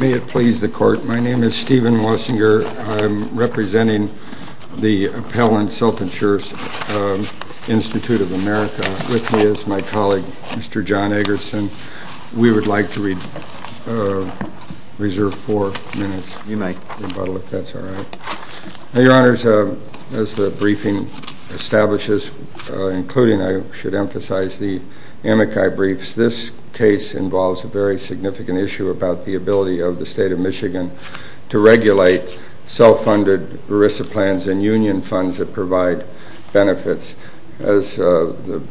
May it please the court, my name is Stephen Wessinger. I'm representing the appellant Self Insurance Institute of America. With me is my colleague, Mr. John Eggerson. We would like to reserve four minutes for rebuttal, if that's all right. Your Honors, as the briefing establishes, including, I should emphasize, the Amici briefs, this case involves a very significant issue about the ability of the State of Michigan to regulate self-funded ERISA plans and union funds that provide benefits. As the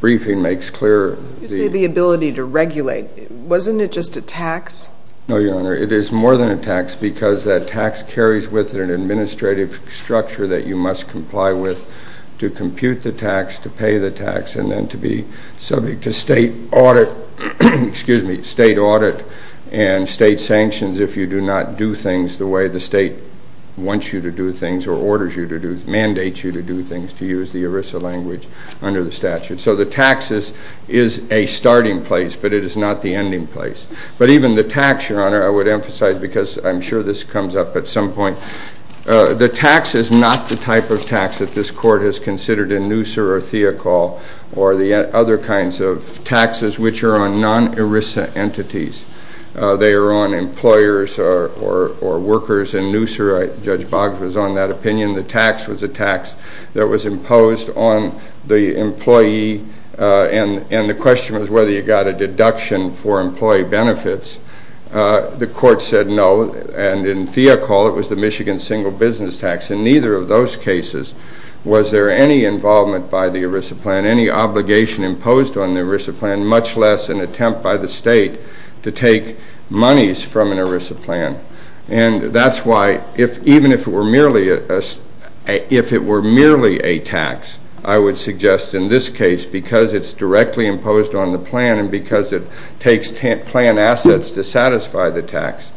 briefing makes clear... You say the ability to regulate. Wasn't it just a tax? No, Your Honor. It is more than a tax, because that tax carries with it an administrative structure that you must comply with to compute the tax, to pay the tax, and then to be subject to State audit and State sanctions if you do not do things the way the State wants you to do things or orders you to do, mandates you to do things, to use the ERISA language under the statute. So the tax is a starting place, but it is not the ending place. But even the tax, Your Honor, I would emphasize, because I'm sure this comes up at some point, the tax is not the type of tax that this Court has considered in Noosa or Theocal or the other kinds of taxes which are on non-ERISA entities. They are on employers or workers. In Noosa, Judge Boggs was on that opinion. The tax was a tax that was imposed on the employee, and the question was whether you got a deduction for employee benefits. The Court said no, and in Theocal it was the Michigan Single Business Tax. In neither of those cases was there any involvement by the ERISA plan, any obligation imposed on the ERISA plan, much less an attempt by the State to take monies from an ERISA plan. And that's why, even if it were merely a tax, I would suggest in this case, because it's directly imposed on the plan and because it takes plan assets to satisfy the tax,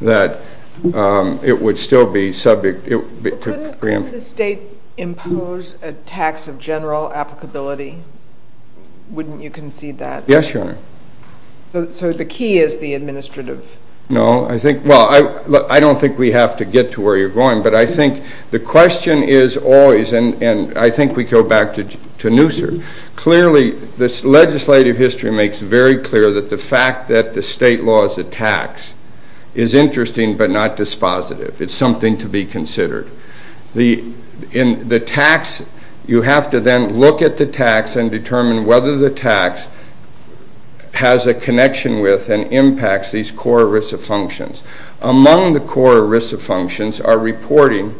that it would still be subject to preemption. But couldn't the State impose a tax of general applicability? Wouldn't you concede that? Yes, Your Honor. So the key is the administrative... No, I think, well, I don't think we have to get to where you're going, but I think the question is always, and I think we go back to Noosa. Clearly, this legislative history makes very clear that the fact that the State laws a tax is interesting but not dispositive. It's something to be considered. In the tax, you have to then look at the tax and determine whether the tax has a connection with and impacts these core ERISA functions. Among the core ERISA functions are reporting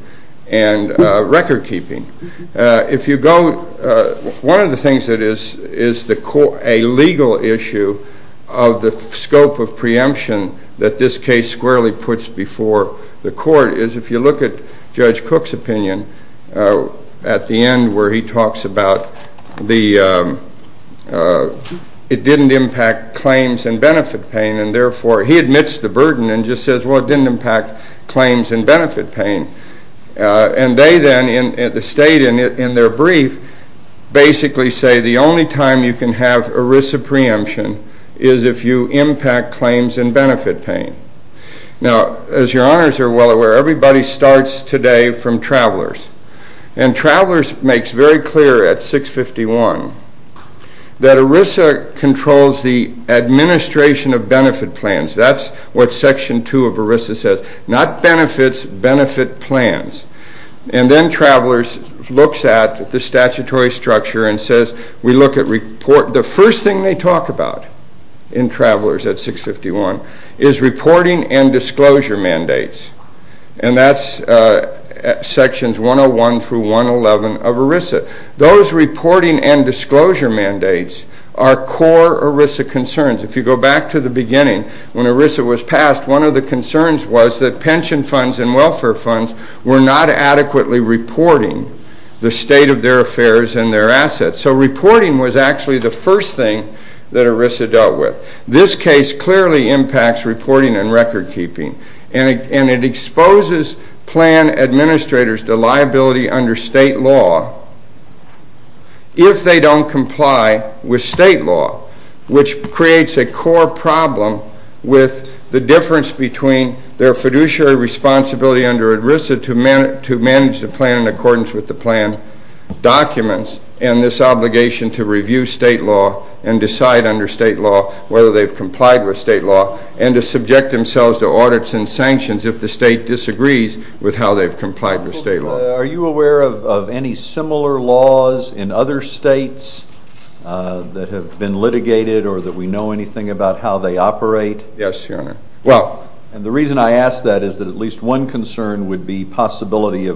and record keeping. One of the things that is a legal issue of the scope of preemption that this case squarely puts before the court is if you look at Judge Cook's opinion at the end, where he talks about it didn't impact claims and benefit paying, and therefore he admits the burden and just says, well, it didn't impact claims and benefit paying. And they then, the State in their brief, basically say the only time you can have ERISA preemption is if you impact claims and benefit paying. Now, as Your Honors are well aware, everybody starts today from travelers. And travelers makes very clear at 651 that ERISA controls the administration of benefit plans. That's what section 2 of ERISA says, not benefits, benefit plans. And then travelers looks at the statutory structure and says, we look at report. The first thing they talk about in travelers at 651 is reporting and disclosure mandates. And that's sections 101 through 111 of ERISA. Those reporting and disclosure mandates are core ERISA concerns. If you go back to the beginning, when ERISA was passed, one of the concerns was that pension funds and welfare funds were not adequately reporting the state of their affairs and their assets. So reporting was actually the first thing that ERISA dealt with. This case clearly impacts reporting and record keeping. And it exposes plan administrators to liability under state law if they don't comply with state law, which creates a core problem with the difference between their fiduciary responsibility under ERISA to manage the plan in accordance with the plan documents and this obligation to review state law and decide under state law whether they've complied with state law and to subject themselves to audits and sanctions if the state disagrees with how they've complied with state law. Are you aware of any similar laws in other states that have been litigated or that we know anything about how they operate? Yes, Your Honor. And the reason I ask that is that at least one concern would be possibility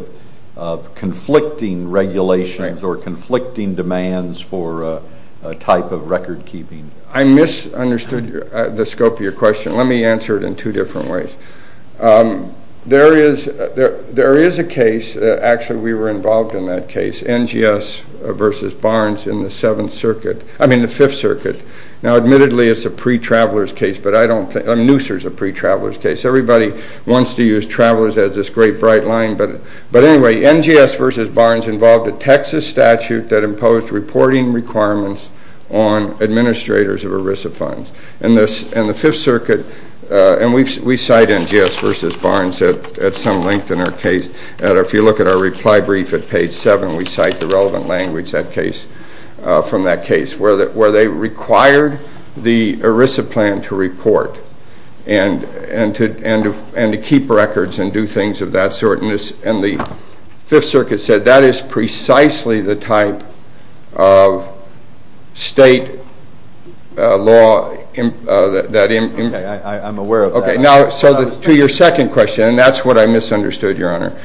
of conflicting regulations or conflicting demands for a type of record keeping. I misunderstood the scope of your question. Let me answer it in two different ways. There is a case, actually we were involved in that case, NGS versus Barnes in the Seventh Circuit, I mean the Fifth Circuit. Now admittedly it's a pre-traveler's case, but I don't think, I mean NUSER is a pre-traveler's case. Everybody wants to use travelers as this great bright line, but anyway, NGS versus Barnes involved a Texas statute that imposed reporting requirements on administrators of ERISA funds. And the Fifth Circuit, and we cite NGS versus Barnes at some length in our case, if you look at our reply brief at page seven, we cite the relevant language from that case where they required the ERISA plan to report and to keep records and do things of that sort. And the Fifth Circuit said that is precisely the type of state law that... Okay, I'm aware of that. Okay, now to your second question, and that's what I misunderstood, Your Honor.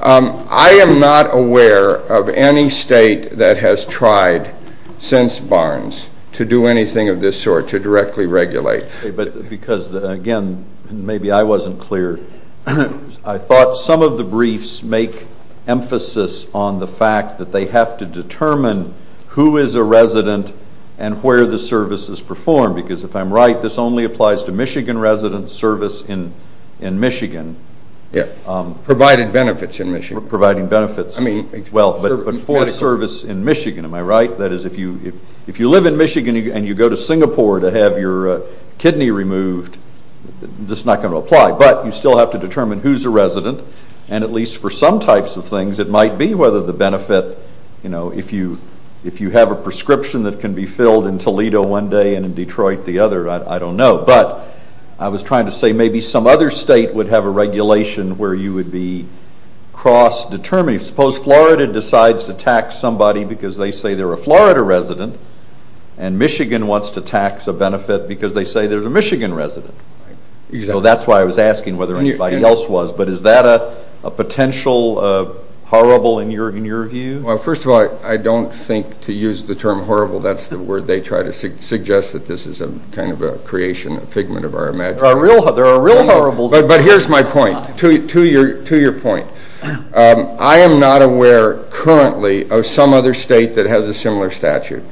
I am not aware of any state that has tried since Barnes to do anything of this sort, to directly regulate. Okay, but because again, maybe I wasn't clear, I thought some of the briefs make emphasis on the fact that they have to determine who is a resident and where the service is performed. Because if I'm right, this only applies to Michigan residents, service in Michigan. Yeah, provided benefits in Michigan. Providing benefits, well, but for service in Michigan, am I right? That is, if you live in Michigan and you go to Singapore to have your kidney removed, this is not going to apply. But you still have to determine who is a resident, and at least for some types of things, it might be whether the benefit, you know, if you have a prescription that can be filled in Toledo one day and in Detroit the other, I don't know. But I was trying to say maybe some other state would have a regulation where you would be cross-determined. Suppose Florida decides to tax somebody because they say they're a Florida resident, and Michigan wants to tax a benefit because they say there's a Michigan resident. So that's why I was asking whether anybody else was. But is that a potential horrible in your view? Well, first of all, I don't think to use the term horrible, that's the word they try to suggest, that this is a kind of a creation, a figment of our imagination. There are real horribles. But here's my point. To your point, I am not aware currently of some other state that has a similar statute.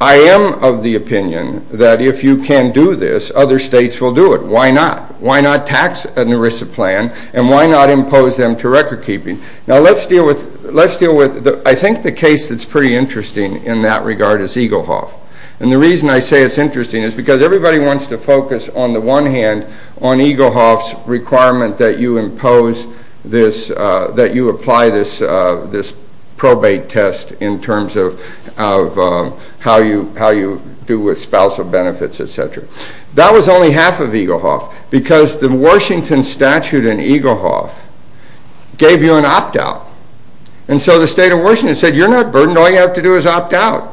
I am of the opinion that if you can do this, other states will do it. Why not? Why not tax an ERISA plan, and why not impose them to recordkeeping? Now, let's deal with, I think the case that's pretty interesting in that regard is Eaglehoff. And the reason I say it's interesting is because everybody wants to focus, on the one hand, on Eaglehoff's requirement that you impose this, that you apply this probate test in terms of how you do with spousal benefits, etc. That was only half of Eaglehoff, because the Washington statute in Eaglehoff gave you an opt-out. And so the state of Washington said, you're not burdened, all you have to do is opt-out.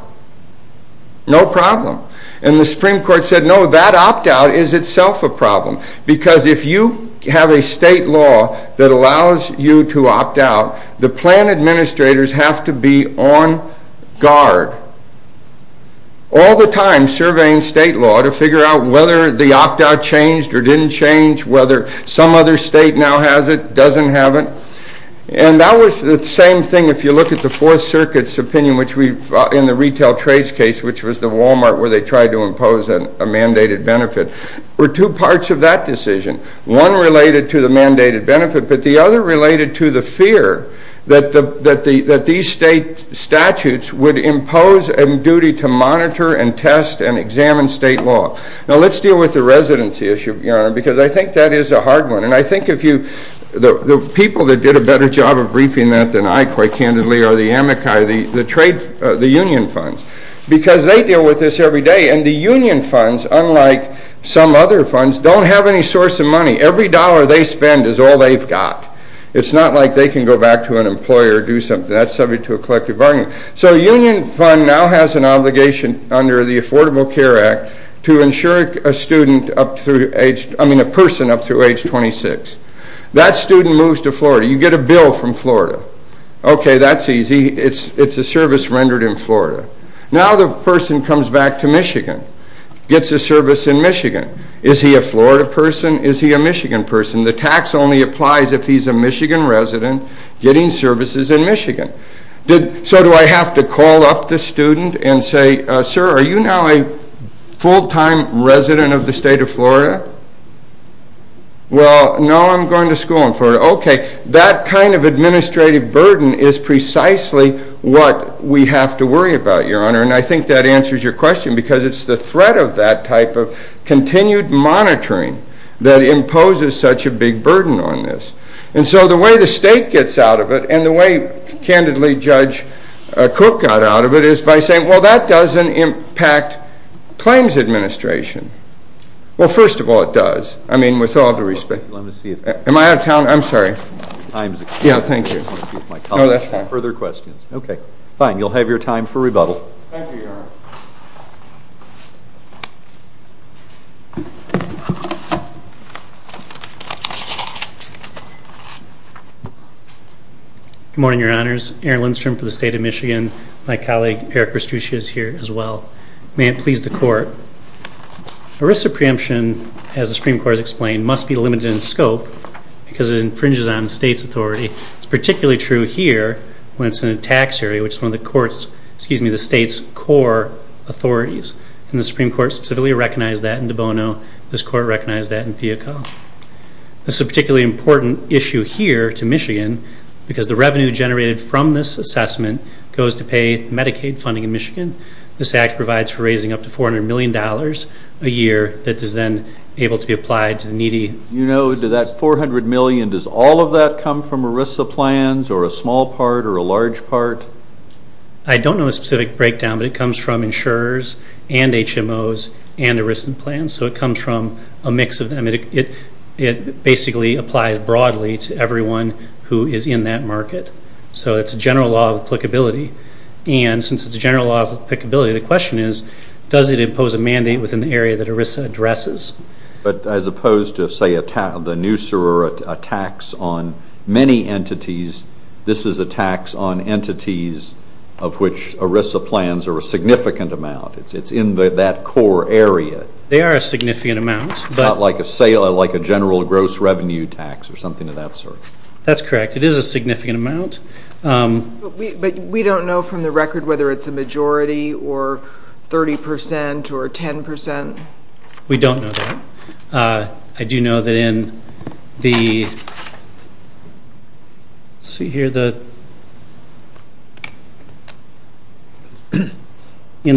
No problem. And the Supreme Court said, no, that opt-out is itself a problem. Because if you have a state law that allows you to opt-out, the plan administrators have to be on guard, all the time, surveying state law to figure out whether the opt-out changed or didn't change, whether some other state now has it, doesn't have it. And that was the same thing if you look at the Fourth Circuit's opinion, in the retail trades case, which was the Walmart where they tried to impose a mandated benefit. There were two parts of that decision. One related to the mandated benefit, but the other related to the fear that these state statutes would impose a duty to monitor and test and examine state law. Now let's deal with the residency issue, because I think that is a hard one. And I think the people that did a better job of briefing that than I, quite candidly, are the Amici, the union funds, because they deal with this every day. And the union funds, unlike some other funds, don't have any source of money. Every dollar they spend is all they've got. It's not like they can go back to an employer and do something. That's subject to a collective bargaining. So a union fund now has an obligation under the Affordable Care Act to insure a person up through age 26. That student moves to Florida. You get a bill from Florida. Okay, that's easy. It's a service rendered in Florida. Now the person comes back to Michigan, gets a service in Michigan. Is he a Florida person? Is he a Michigan person? The tax only applies if he's a Michigan resident getting services in Michigan. So do I have to call up the student and say, Sir, are you now a full-time resident of the state of Florida? Well, no, I'm going to school in Florida. Okay, that kind of administrative burden is precisely what we have to worry about, Your Honor, and I think that answers your question, because it's the threat of that type of continued monitoring that imposes such a big burden on this. And so the way the state gets out of it, and the way, candidly, Judge Cook got out of it, is by saying, well, that doesn't impact claims administration. Well, first of all, it does, I mean, with all due respect. Am I out of time? I'm sorry. Yeah, thank you. No, that's fine. Further questions? Okay, fine. You'll have your time for rebuttal. Thank you, Your Honor. Good morning, Your Honors. Aaron Lindstrom for the State of Michigan. My colleague, Eric Kostuchy, is here as well. May it please the Court. Arrested preemption, as the Supreme Court has explained, must be limited in scope because it infringes on the state's authority. It's particularly true here when it's in a tax area, which is one of the state's core authorities, and the Supreme Court specifically recognized that in De Bono. This Court recognized that in FIACA. This is a particularly important issue here to Michigan because the revenue generated from this assessment goes to pay Medicaid funding in Michigan. This act provides for raising up to $400 million a year that is then able to be applied to the needy. You know, to that $400 million, does all of that come from ERISA plans or a small part or a large part? I don't know the specific breakdown, but it comes from insurers and HMOs and ERISA plans, so it comes from a mix of them. It basically applies broadly to everyone who is in that market. So it's a general law of applicability, and since it's a general law of applicability, the question is, does it impose a mandate within the area that ERISA addresses? But as opposed to, say, the new SORURA tax on many entities, this is a tax on entities of which ERISA plans are a significant amount. It's in that core area. They are a significant amount. It's not like a general gross revenue tax or something of that sort. That's correct. It is a significant amount. But we don't know from the record whether it's a majority or 30 percent or 10 percent. We don't know that. I do know that in the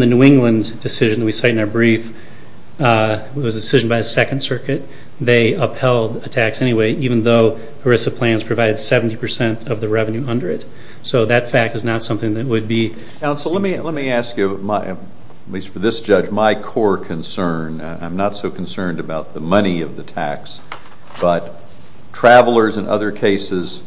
New England decision that we cite in our brief, it was a decision by the Second Circuit, they upheld a tax anyway, even though ERISA plans provided 70 percent of the revenue under it. So that fact is not something that would be— Counsel, let me ask you, at least for this judge, my core concern. I'm not so concerned about the money of the tax, but travelers in other cases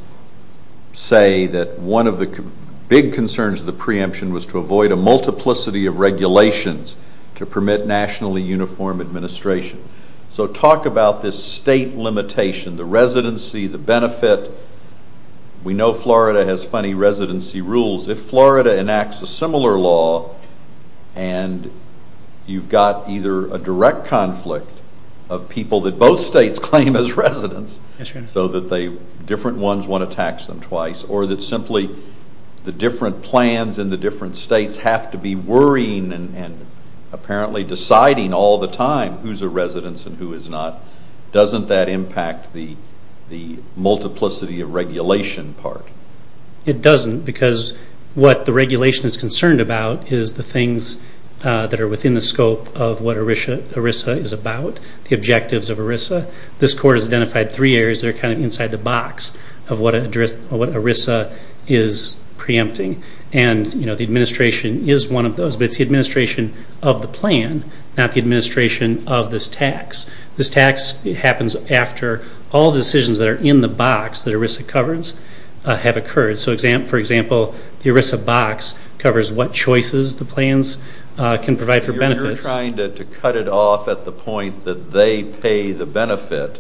say that one of the big concerns of the preemption was to avoid a multiplicity of regulations to permit nationally uniform administration. So talk about this state limitation, the residency, the benefit. We know Florida has funny residency rules. If Florida enacts a similar law, and you've got either a direct conflict of people that both states claim as residents, so that different ones want to tax them twice, or that simply the different plans in the different states have to be worrying and apparently deciding all the time who's a residence and who is not, doesn't that impact the multiplicity of regulation part? It doesn't, because what the regulation is concerned about is the things that are within the scope of what ERISA is about, the objectives of ERISA. This court has identified three areas that are kind of inside the box of what ERISA is preempting. And the administration is one of those, but it's the administration of the plan, not the administration of this tax. This tax happens after all the decisions that are in the box that ERISA covers have occurred. So, for example, the ERISA box covers what choices the plans can provide for benefits. You're trying to cut it off at the point that they pay the benefit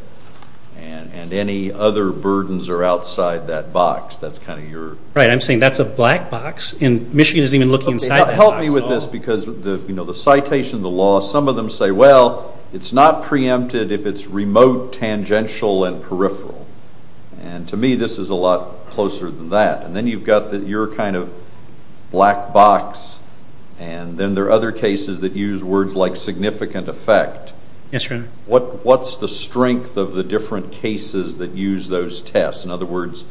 and any other burdens are outside that box. Right, I'm saying that's a black box, and Michigan isn't even looking inside that box at all. Help me with this, because the citation, the law, some of them say, well, it's not preempted if it's remote, tangential, and peripheral. And to me, this is a lot closer than that. And then you've got your kind of black box, and then there are other cases that use words like significant effect. Yes, Your Honor. What's the strength of the different cases that use those tests? In other words,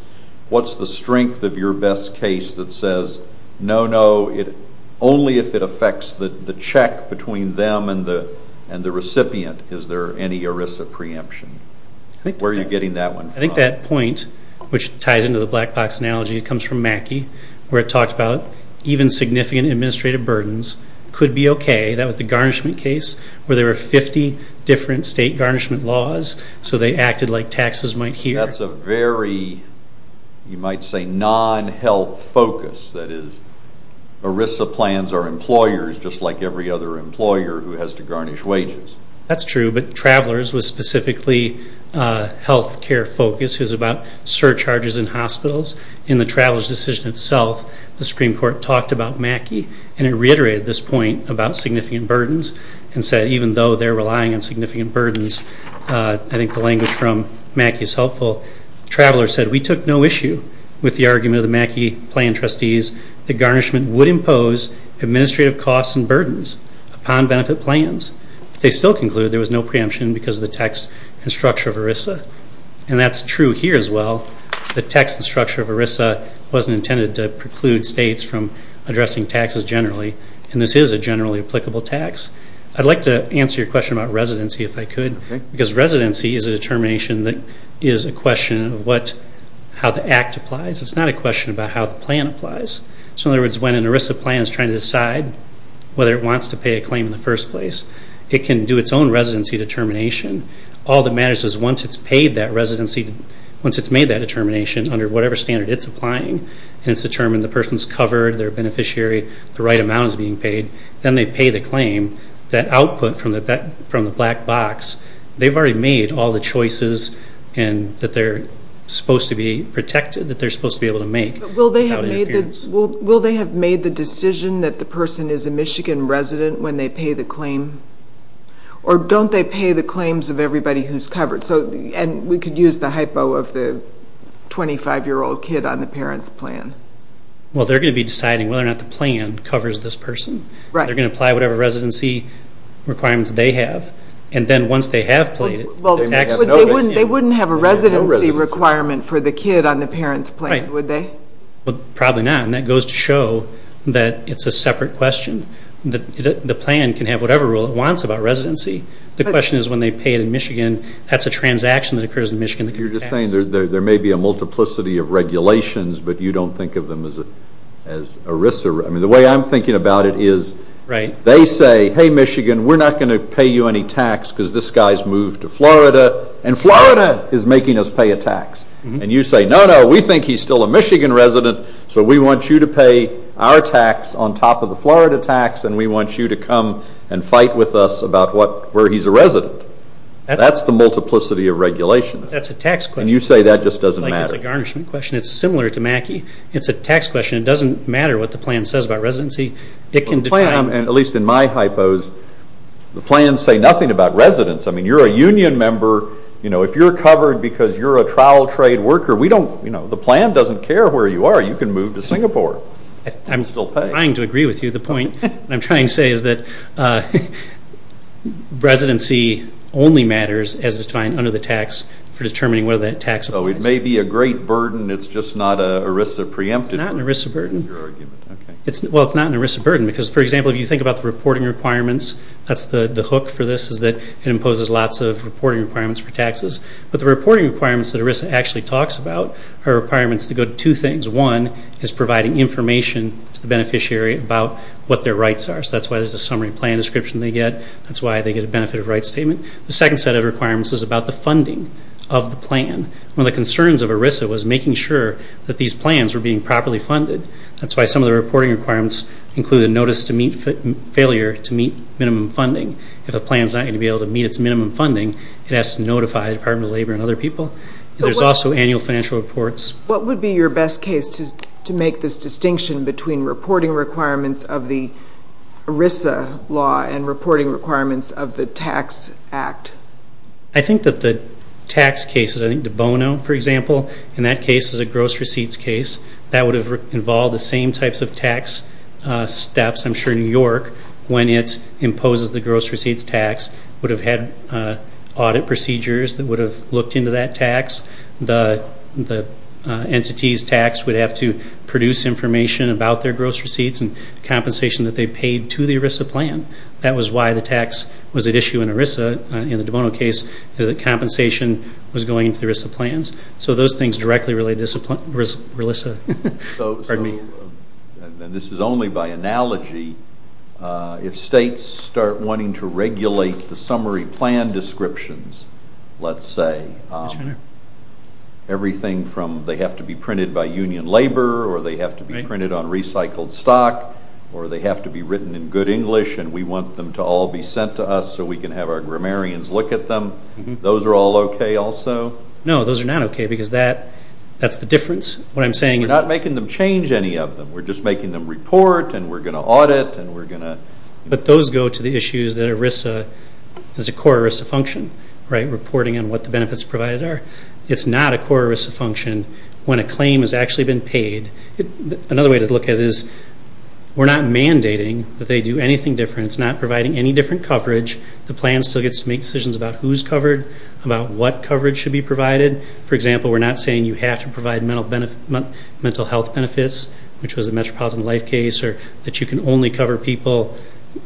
what's the strength of your best case that says, no, no, only if it affects the check between them and the recipient is there any ERISA preemption? Where are you getting that one from? I think that point, which ties into the black box analogy, comes from Mackey, where it talks about even significant administrative burdens could be okay. That was the garnishment case where there were 50 different state garnishment laws, so they acted like taxes might hear. That's a very, you might say, non-health focus. That is, ERISA plans are employers just like every other employer who has to garnish wages. That's true, but Travelers was specifically health care-focused. It was about surcharges in hospitals. In the Travelers decision itself, the Supreme Court talked about Mackey, and it reiterated this point about significant burdens and said even though they're relying on significant burdens, I think the language from Mackey is helpful. Travelers said, we took no issue with the argument of the Mackey plan trustees that garnishment would impose administrative costs and burdens upon benefit plans. They still concluded there was no preemption because of the text and structure of ERISA. That's true here as well. The text and structure of ERISA wasn't intended to preclude states from addressing taxes generally, and this is a generally applicable tax. I'd like to answer your question about residency if I could, because residency is a determination that is a question of how the act applies. It's not a question about how the plan applies. In other words, when an ERISA plan is trying to decide whether it wants to pay a claim in the first place, it can do its own residency determination. All that matters is once it's paid that residency, once it's made that determination under whatever standard it's applying and it's determined the person's covered, they're a beneficiary, the right amount is being paid, then they pay the claim. That output from the black box, they've already made all the choices that they're supposed to be able to make. Will they have made the decision that the person is a Michigan resident when they pay the claim? Or don't they pay the claims of everybody who's covered? We could use the hypo of the 25-year-old kid on the parent's plan. Well, they're going to be deciding whether or not the plan covers this person. They're going to apply whatever residency requirements they have, and then once they have paid it, they may have no residency. They wouldn't have a residency requirement for the kid on the parent's plan, would they? Probably not, and that goes to show that it's a separate question. The plan can have whatever rule it wants about residency. The question is when they pay it in Michigan, that's a transaction that occurs in Michigan that could be taxed. You're just saying there may be a multiplicity of regulations, but you don't think of them as a risk. The way I'm thinking about it is they say, hey, Michigan, we're not going to pay you any tax because this guy's moved to Florida, and Florida is making us pay a tax. And you say, no, no, we think he's still a Michigan resident, so we want you to pay our tax on top of the Florida tax, and we want you to come and fight with us about where he's a resident. That's the multiplicity of regulations. That's a tax question. And you say that just doesn't matter. It's a garnishment question. It's similar to Mackey. It's a tax question. It doesn't matter what the plan says about residency. It can define it. At least in my hypos, the plans say nothing about residence. I mean, you're a union member. If you're covered because you're a trial trade worker, the plan doesn't care where you are. You can move to Singapore and still pay. I'm trying to agree with you. The point I'm trying to say is that residency only matters, as defined under the tax, for determining whether that tax applies. So it may be a great burden. It's just not an ERISA preemptive. It's not an ERISA burden. Well, it's not an ERISA burden because, for example, if you think about the reporting requirements, that's the hook for this, is that it imposes lots of reporting requirements for taxes. But the reporting requirements that ERISA actually talks about are requirements that go to two things. One is providing information to the beneficiary about what their rights are. So that's why there's a summary plan description they get. That's why they get a benefit of rights statement. The second set of requirements is about the funding of the plan. One of the concerns of ERISA was making sure that these plans were being properly funded. That's why some of the reporting requirements include a notice to meet failure to meet minimum funding. If a plan is not going to be able to meet its minimum funding, it has to notify the Department of Labor and other people. There's also annual financial reports. What would be your best case to make this distinction between reporting requirements of the ERISA law and reporting requirements of the tax act? I think that the tax cases, I think De Bono, for example, in that case is a gross receipts case. That would have involved the same types of tax steps, I'm sure, in York, when it imposes the gross receipts tax. It would have had audit procedures that would have looked into that tax. The entity's tax would have to produce information about their gross receipts and compensation that they paid to the ERISA plan. That was why the tax was at issue in ERISA in the De Bono case, is that compensation was going to the ERISA plans. So those things directly relate to ERISA. This is only by analogy. If states start wanting to regulate the summary plan descriptions, let's say, everything from they have to be printed by union labor or they have to be printed on recycled stock or they have to be written in good English and we want them to all be sent to us so we can have our grammarians look at them, those are all okay also? No, those are not okay because that's the difference. We're not making them change any of them. We're just making them report and we're going to audit. But those go to the issues that ERISA is a core ERISA function, reporting on what the benefits provided are. It's not a core ERISA function when a claim has actually been paid. Another way to look at it is we're not mandating that they do anything different. It's not providing any different coverage. The plan still gets to make decisions about who's covered, about what coverage should be provided. For example, we're not saying you have to provide mental health benefits, which was the Metropolitan Life case, or that you can only cover people,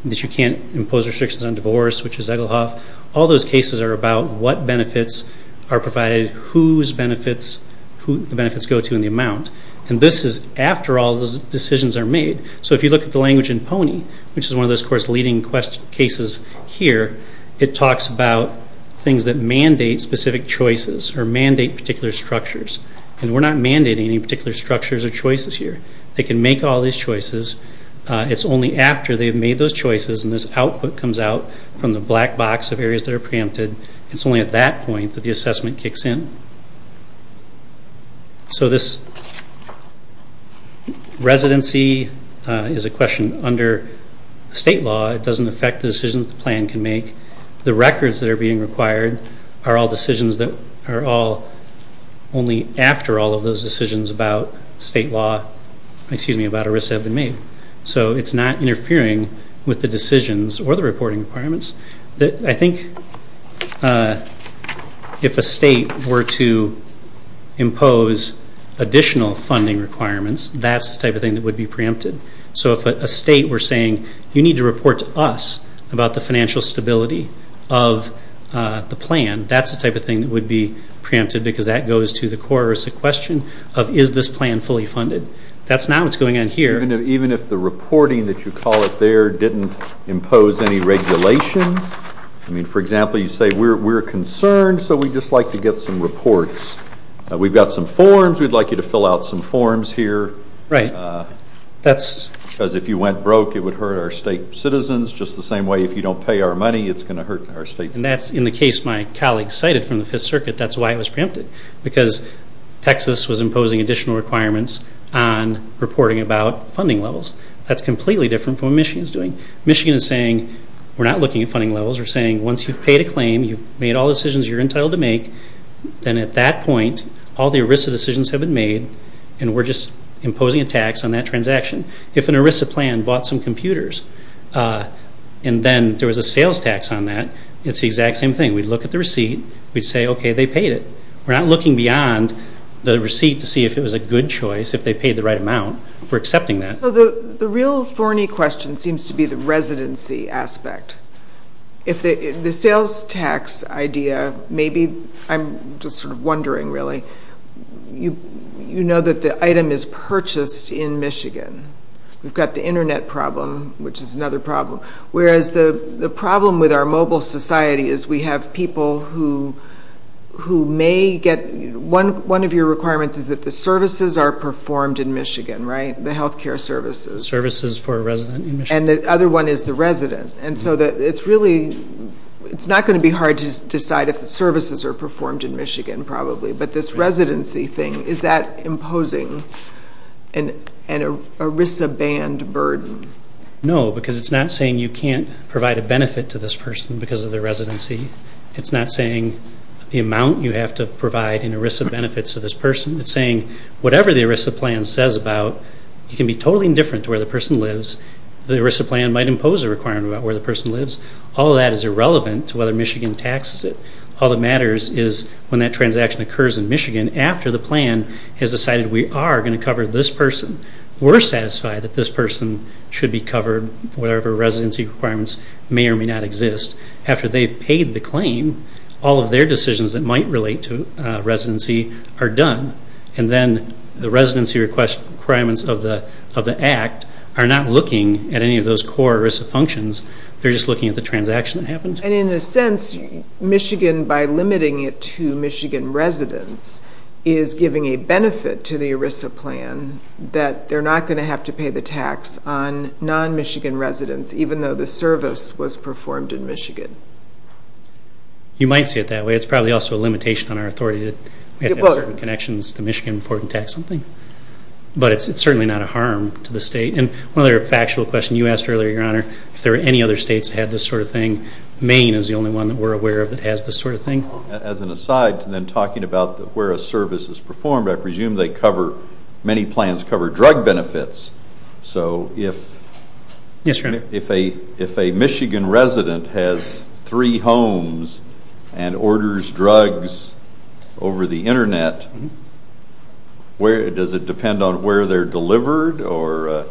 that you can't impose restrictions on divorce, which is Egelhoff. All those cases are about what benefits are provided, whose benefits, who the benefits go to, and the amount. And this is after all those decisions are made. So if you look at the language in PONY, which is one of those core's leading cases here, it talks about things that mandate specific choices or mandate particular structures. And we're not mandating any particular structures or choices here. They can make all these choices. It's only after they've made those choices and this output comes out from the black box of areas that are preempted, it's only at that point that the assessment kicks in. So this residency is a question under state law. It doesn't affect the decisions the plan can make. The records that are being required are all decisions that are all only after all of those decisions about state law, excuse me, about a risk have been made. So it's not interfering with the decisions or the reporting requirements. I think if a state were to impose additional funding requirements, that's the type of thing that would be preempted. So if a state were saying you need to report to us about the financial stability of the plan, that's the type of thing that would be preempted because that goes to the core question of is this plan fully funded. That's not what's going on here. Even if the reporting that you call it there didn't impose any regulation? I mean, for example, you say we're concerned, so we'd just like to get some reports. We've got some forms. We'd like you to fill out some forms here. Because if you went broke, it would hurt our state citizens just the same way if you don't pay our money, it's going to hurt our state citizens. And that's in the case my colleague cited from the Fifth Circuit. That's why it was preempted, because Texas was imposing additional requirements on reporting about funding levels. That's completely different from what Michigan is doing. Michigan is saying we're not looking at funding levels. We're saying once you've paid a claim, you've made all the decisions you're entitled to make, then at that point all the ERISA decisions have been made and we're just imposing a tax on that transaction. If an ERISA plan bought some computers and then there was a sales tax on that, it's the exact same thing. We'd look at the receipt. We'd say, okay, they paid it. We're not looking beyond the receipt to see if it was a good choice, if they paid the right amount. We're accepting that. So the real thorny question seems to be the residency aspect. The sales tax idea may be, I'm just sort of wondering really, you know that the item is purchased in Michigan. We've got the Internet problem, which is another problem, whereas the problem with our mobile society is we have people who may get one of your requirements is that the services are performed in Michigan, right? The health care services. Services for a resident in Michigan. And the other one is the resident. It's not going to be hard to decide if the services are performed in Michigan probably, but this residency thing, is that imposing an ERISA-banned burden? No, because it's not saying you can't provide a benefit to this person because of their residency. It's not saying the amount you have to provide in ERISA benefits to this person. It's saying whatever the ERISA plan says about, you can be totally indifferent to where the person lives. The ERISA plan might impose a requirement about where the person lives. All of that is irrelevant to whether Michigan taxes it. All that matters is when that transaction occurs in Michigan, after the plan has decided we are going to cover this person, we're satisfied that this person should be covered whatever residency requirements may or may not exist. After they've paid the claim, all of their decisions that might relate to residency are done. And then the residency requirements of the act are not looking at any of those core ERISA functions. They're just looking at the transaction that happened. And in a sense, Michigan, by limiting it to Michigan residents, is giving a benefit to the ERISA plan that they're not going to have to pay the tax on non-Michigan residents, even though the service was performed in Michigan. You might see it that way. It's probably also a limitation on our authority that we have certain connections to Michigan before we can tax something. But it's certainly not a harm to the state. And another factual question you asked earlier, Your Honor, if there are any other states that have this sort of thing, Maine is the only one that we're aware of that has this sort of thing. As an aside to then talking about where a service is performed, I presume many plans cover drug benefits. So if a Michigan resident has three homes and orders drugs over the Internet, does it depend on where they're delivered? Or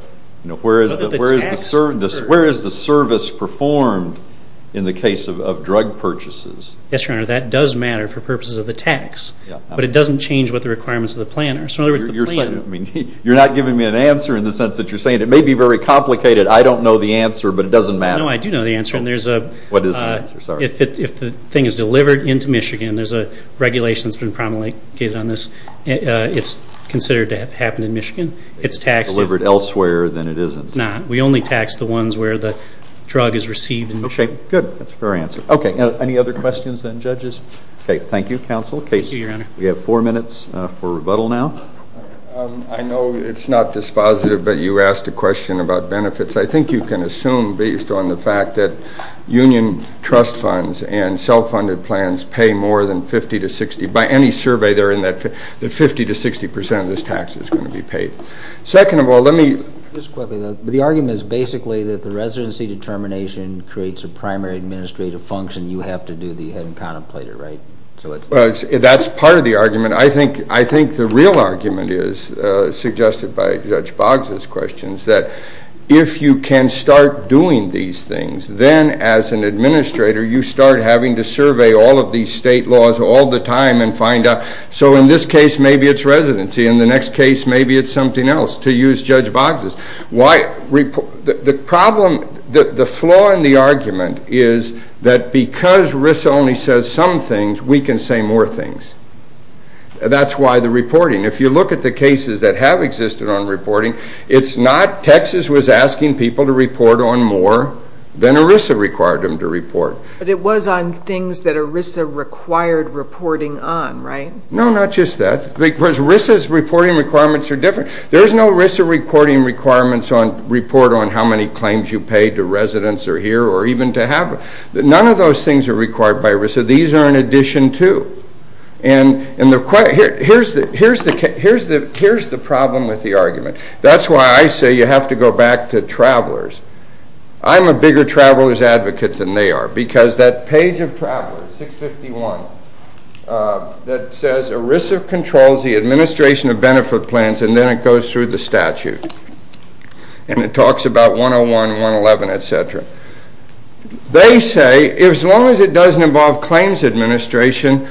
where is the service performed in the case of drug purchases? Yes, Your Honor, that does matter for purposes of the tax. But it doesn't change what the requirements of the plan are. So in other words, the plan. You're not giving me an answer in the sense that you're saying it may be very complicated. I don't know the answer, but it doesn't matter. No, I do know the answer. What is the answer? If the thing is delivered into Michigan, there's a regulation that's been promulgated on this. It's considered to have happened in Michigan. If it's delivered elsewhere, then it isn't. It's not. We only tax the ones where the drug is received in Michigan. Okay. Good. That's a fair answer. Okay. Any other questions, then, judges? Okay. Thank you, counsel. Thank you, Your Honor. We have four minutes for rebuttal now. I know it's not dispositive, but you asked a question about benefits. I think you can assume based on the fact that union trust funds and self-funded plans pay more than 50 to 60. By any survey, they're in that 50 to 60 percent of this tax is going to be paid. Second of all, let me. Just quickly. The argument is basically that the residency determination creates a primary administrative function. You have to do the having contemplated, right? That's part of the argument. I think the real argument is, suggested by Judge Boggs' questions, that if you can start doing these things, then as an administrator, you start having to survey all of these state laws all the time and find out. So in this case, maybe it's residency. In the next case, maybe it's something else, to use Judge Boggs'. The flaw in the argument is that because ERISA only says some things, we can say more things. That's why the reporting. If you look at the cases that have existed on reporting, it's not Texas was But it was on things that ERISA required reporting on, right? No, not just that. Because ERISA's reporting requirements are different. There's no ERISA reporting requirements on report on how many claims you pay to residents or here or even to have. None of those things are required by ERISA. These are in addition to. Here's the problem with the argument. That's why I say you have to go back to travelers. I'm a bigger traveler's advocate than they are because that page of travelers, 651, that says ERISA controls the administration of benefit plans, and then it goes through the statute. And it talks about 101, 111, et cetera. They say as long as it doesn't involve claims administration,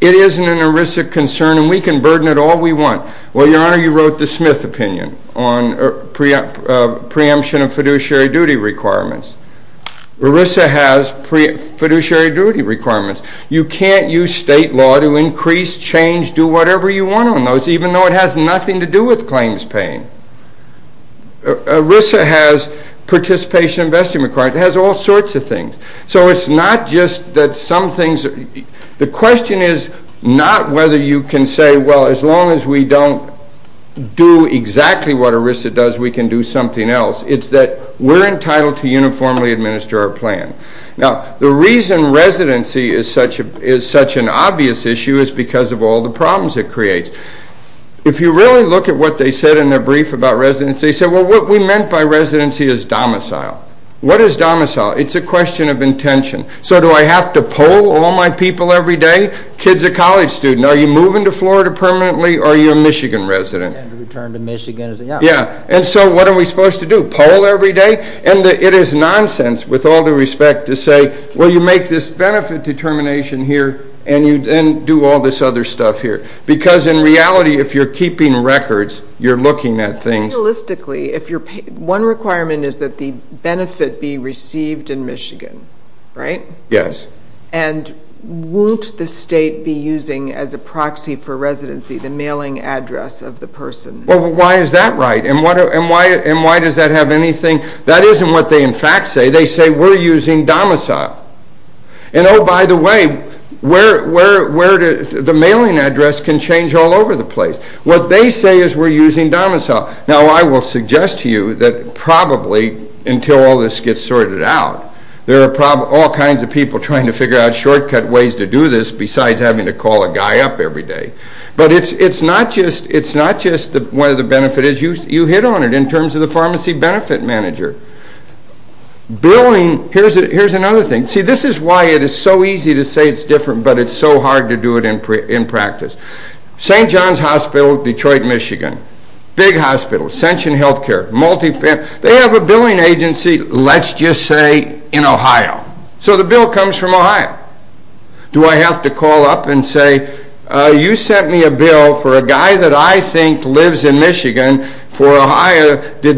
it isn't an ERISA concern and we can burden it all we want. Well, Your Honor, you wrote the Smith opinion on preemption of fiduciary duty requirements. ERISA has fiduciary duty requirements. You can't use state law to increase, change, do whatever you want on those even though it has nothing to do with claims paying. ERISA has participation investment requirements. It has all sorts of things. So it's not just that some things are. The question is not whether you can say, well, as long as we don't do exactly what ERISA does, we can do something else. It's that we're entitled to uniformly administer our plan. Now, the reason residency is such an obvious issue is because of all the problems it creates. If you really look at what they said in their brief about residency, they said, well, what we meant by residency is domicile. What is domicile? It's a question of intention. So do I have to poll all my people every day? Kid's a college student. Are you moving to Florida permanently or are you a Michigan resident? And return to Michigan. Yeah, and so what are we supposed to do, poll every day? And it is nonsense with all due respect to say, well, you make this benefit determination here and do all this other stuff here because in reality, if you're keeping records, you're looking at things. One requirement is that the benefit be received in Michigan, right? Yes. And won't the state be using as a proxy for residency the mailing address of the person? Well, why is that right? And why does that have anything? That isn't what they in fact say. They say we're using domicile. And oh, by the way, the mailing address can change all over the place. What they say is we're using domicile. Now I will suggest to you that probably until all this gets sorted out, there are all kinds of people trying to figure out shortcut ways to do this besides having to call a guy up every day. But it's not just whether the benefit is used. You hit on it in terms of the pharmacy benefit manager. Billing, here's another thing. See, this is why it is so easy to say it's different, but it's so hard to do it in practice. St. John's Hospital, Detroit, Michigan. Big hospitals, Ascension Healthcare, multifamily. They have a billing agency, let's just say, in Ohio. So the bill comes from Ohio. Do I have to call up and say, you sent me a bill for a guy that I think lives in Michigan for Ohio. Was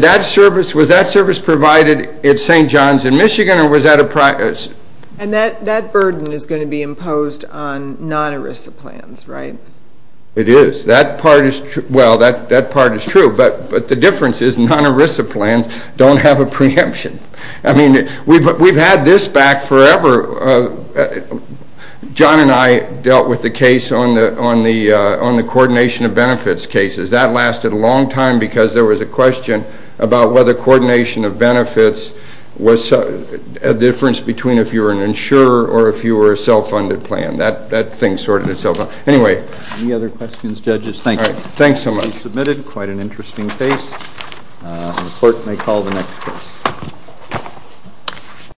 that service provided at St. John's in Michigan or was that a private? And that burden is going to be imposed on non-ERISA plans, right? It is. That part is true, but the difference is non-ERISA plans don't have a preemption. I mean, we've had this back forever. John and I dealt with the case on the coordination of benefits cases. That lasted a long time because there was a question about whether coordination of benefits was a difference between if you were an insurer or if you were a self-funded plan. That thing sorted itself out. Anyway. Any other questions, judges? Thank you. All right. Thanks so much. Submitted quite an interesting case. The clerk may call the next case.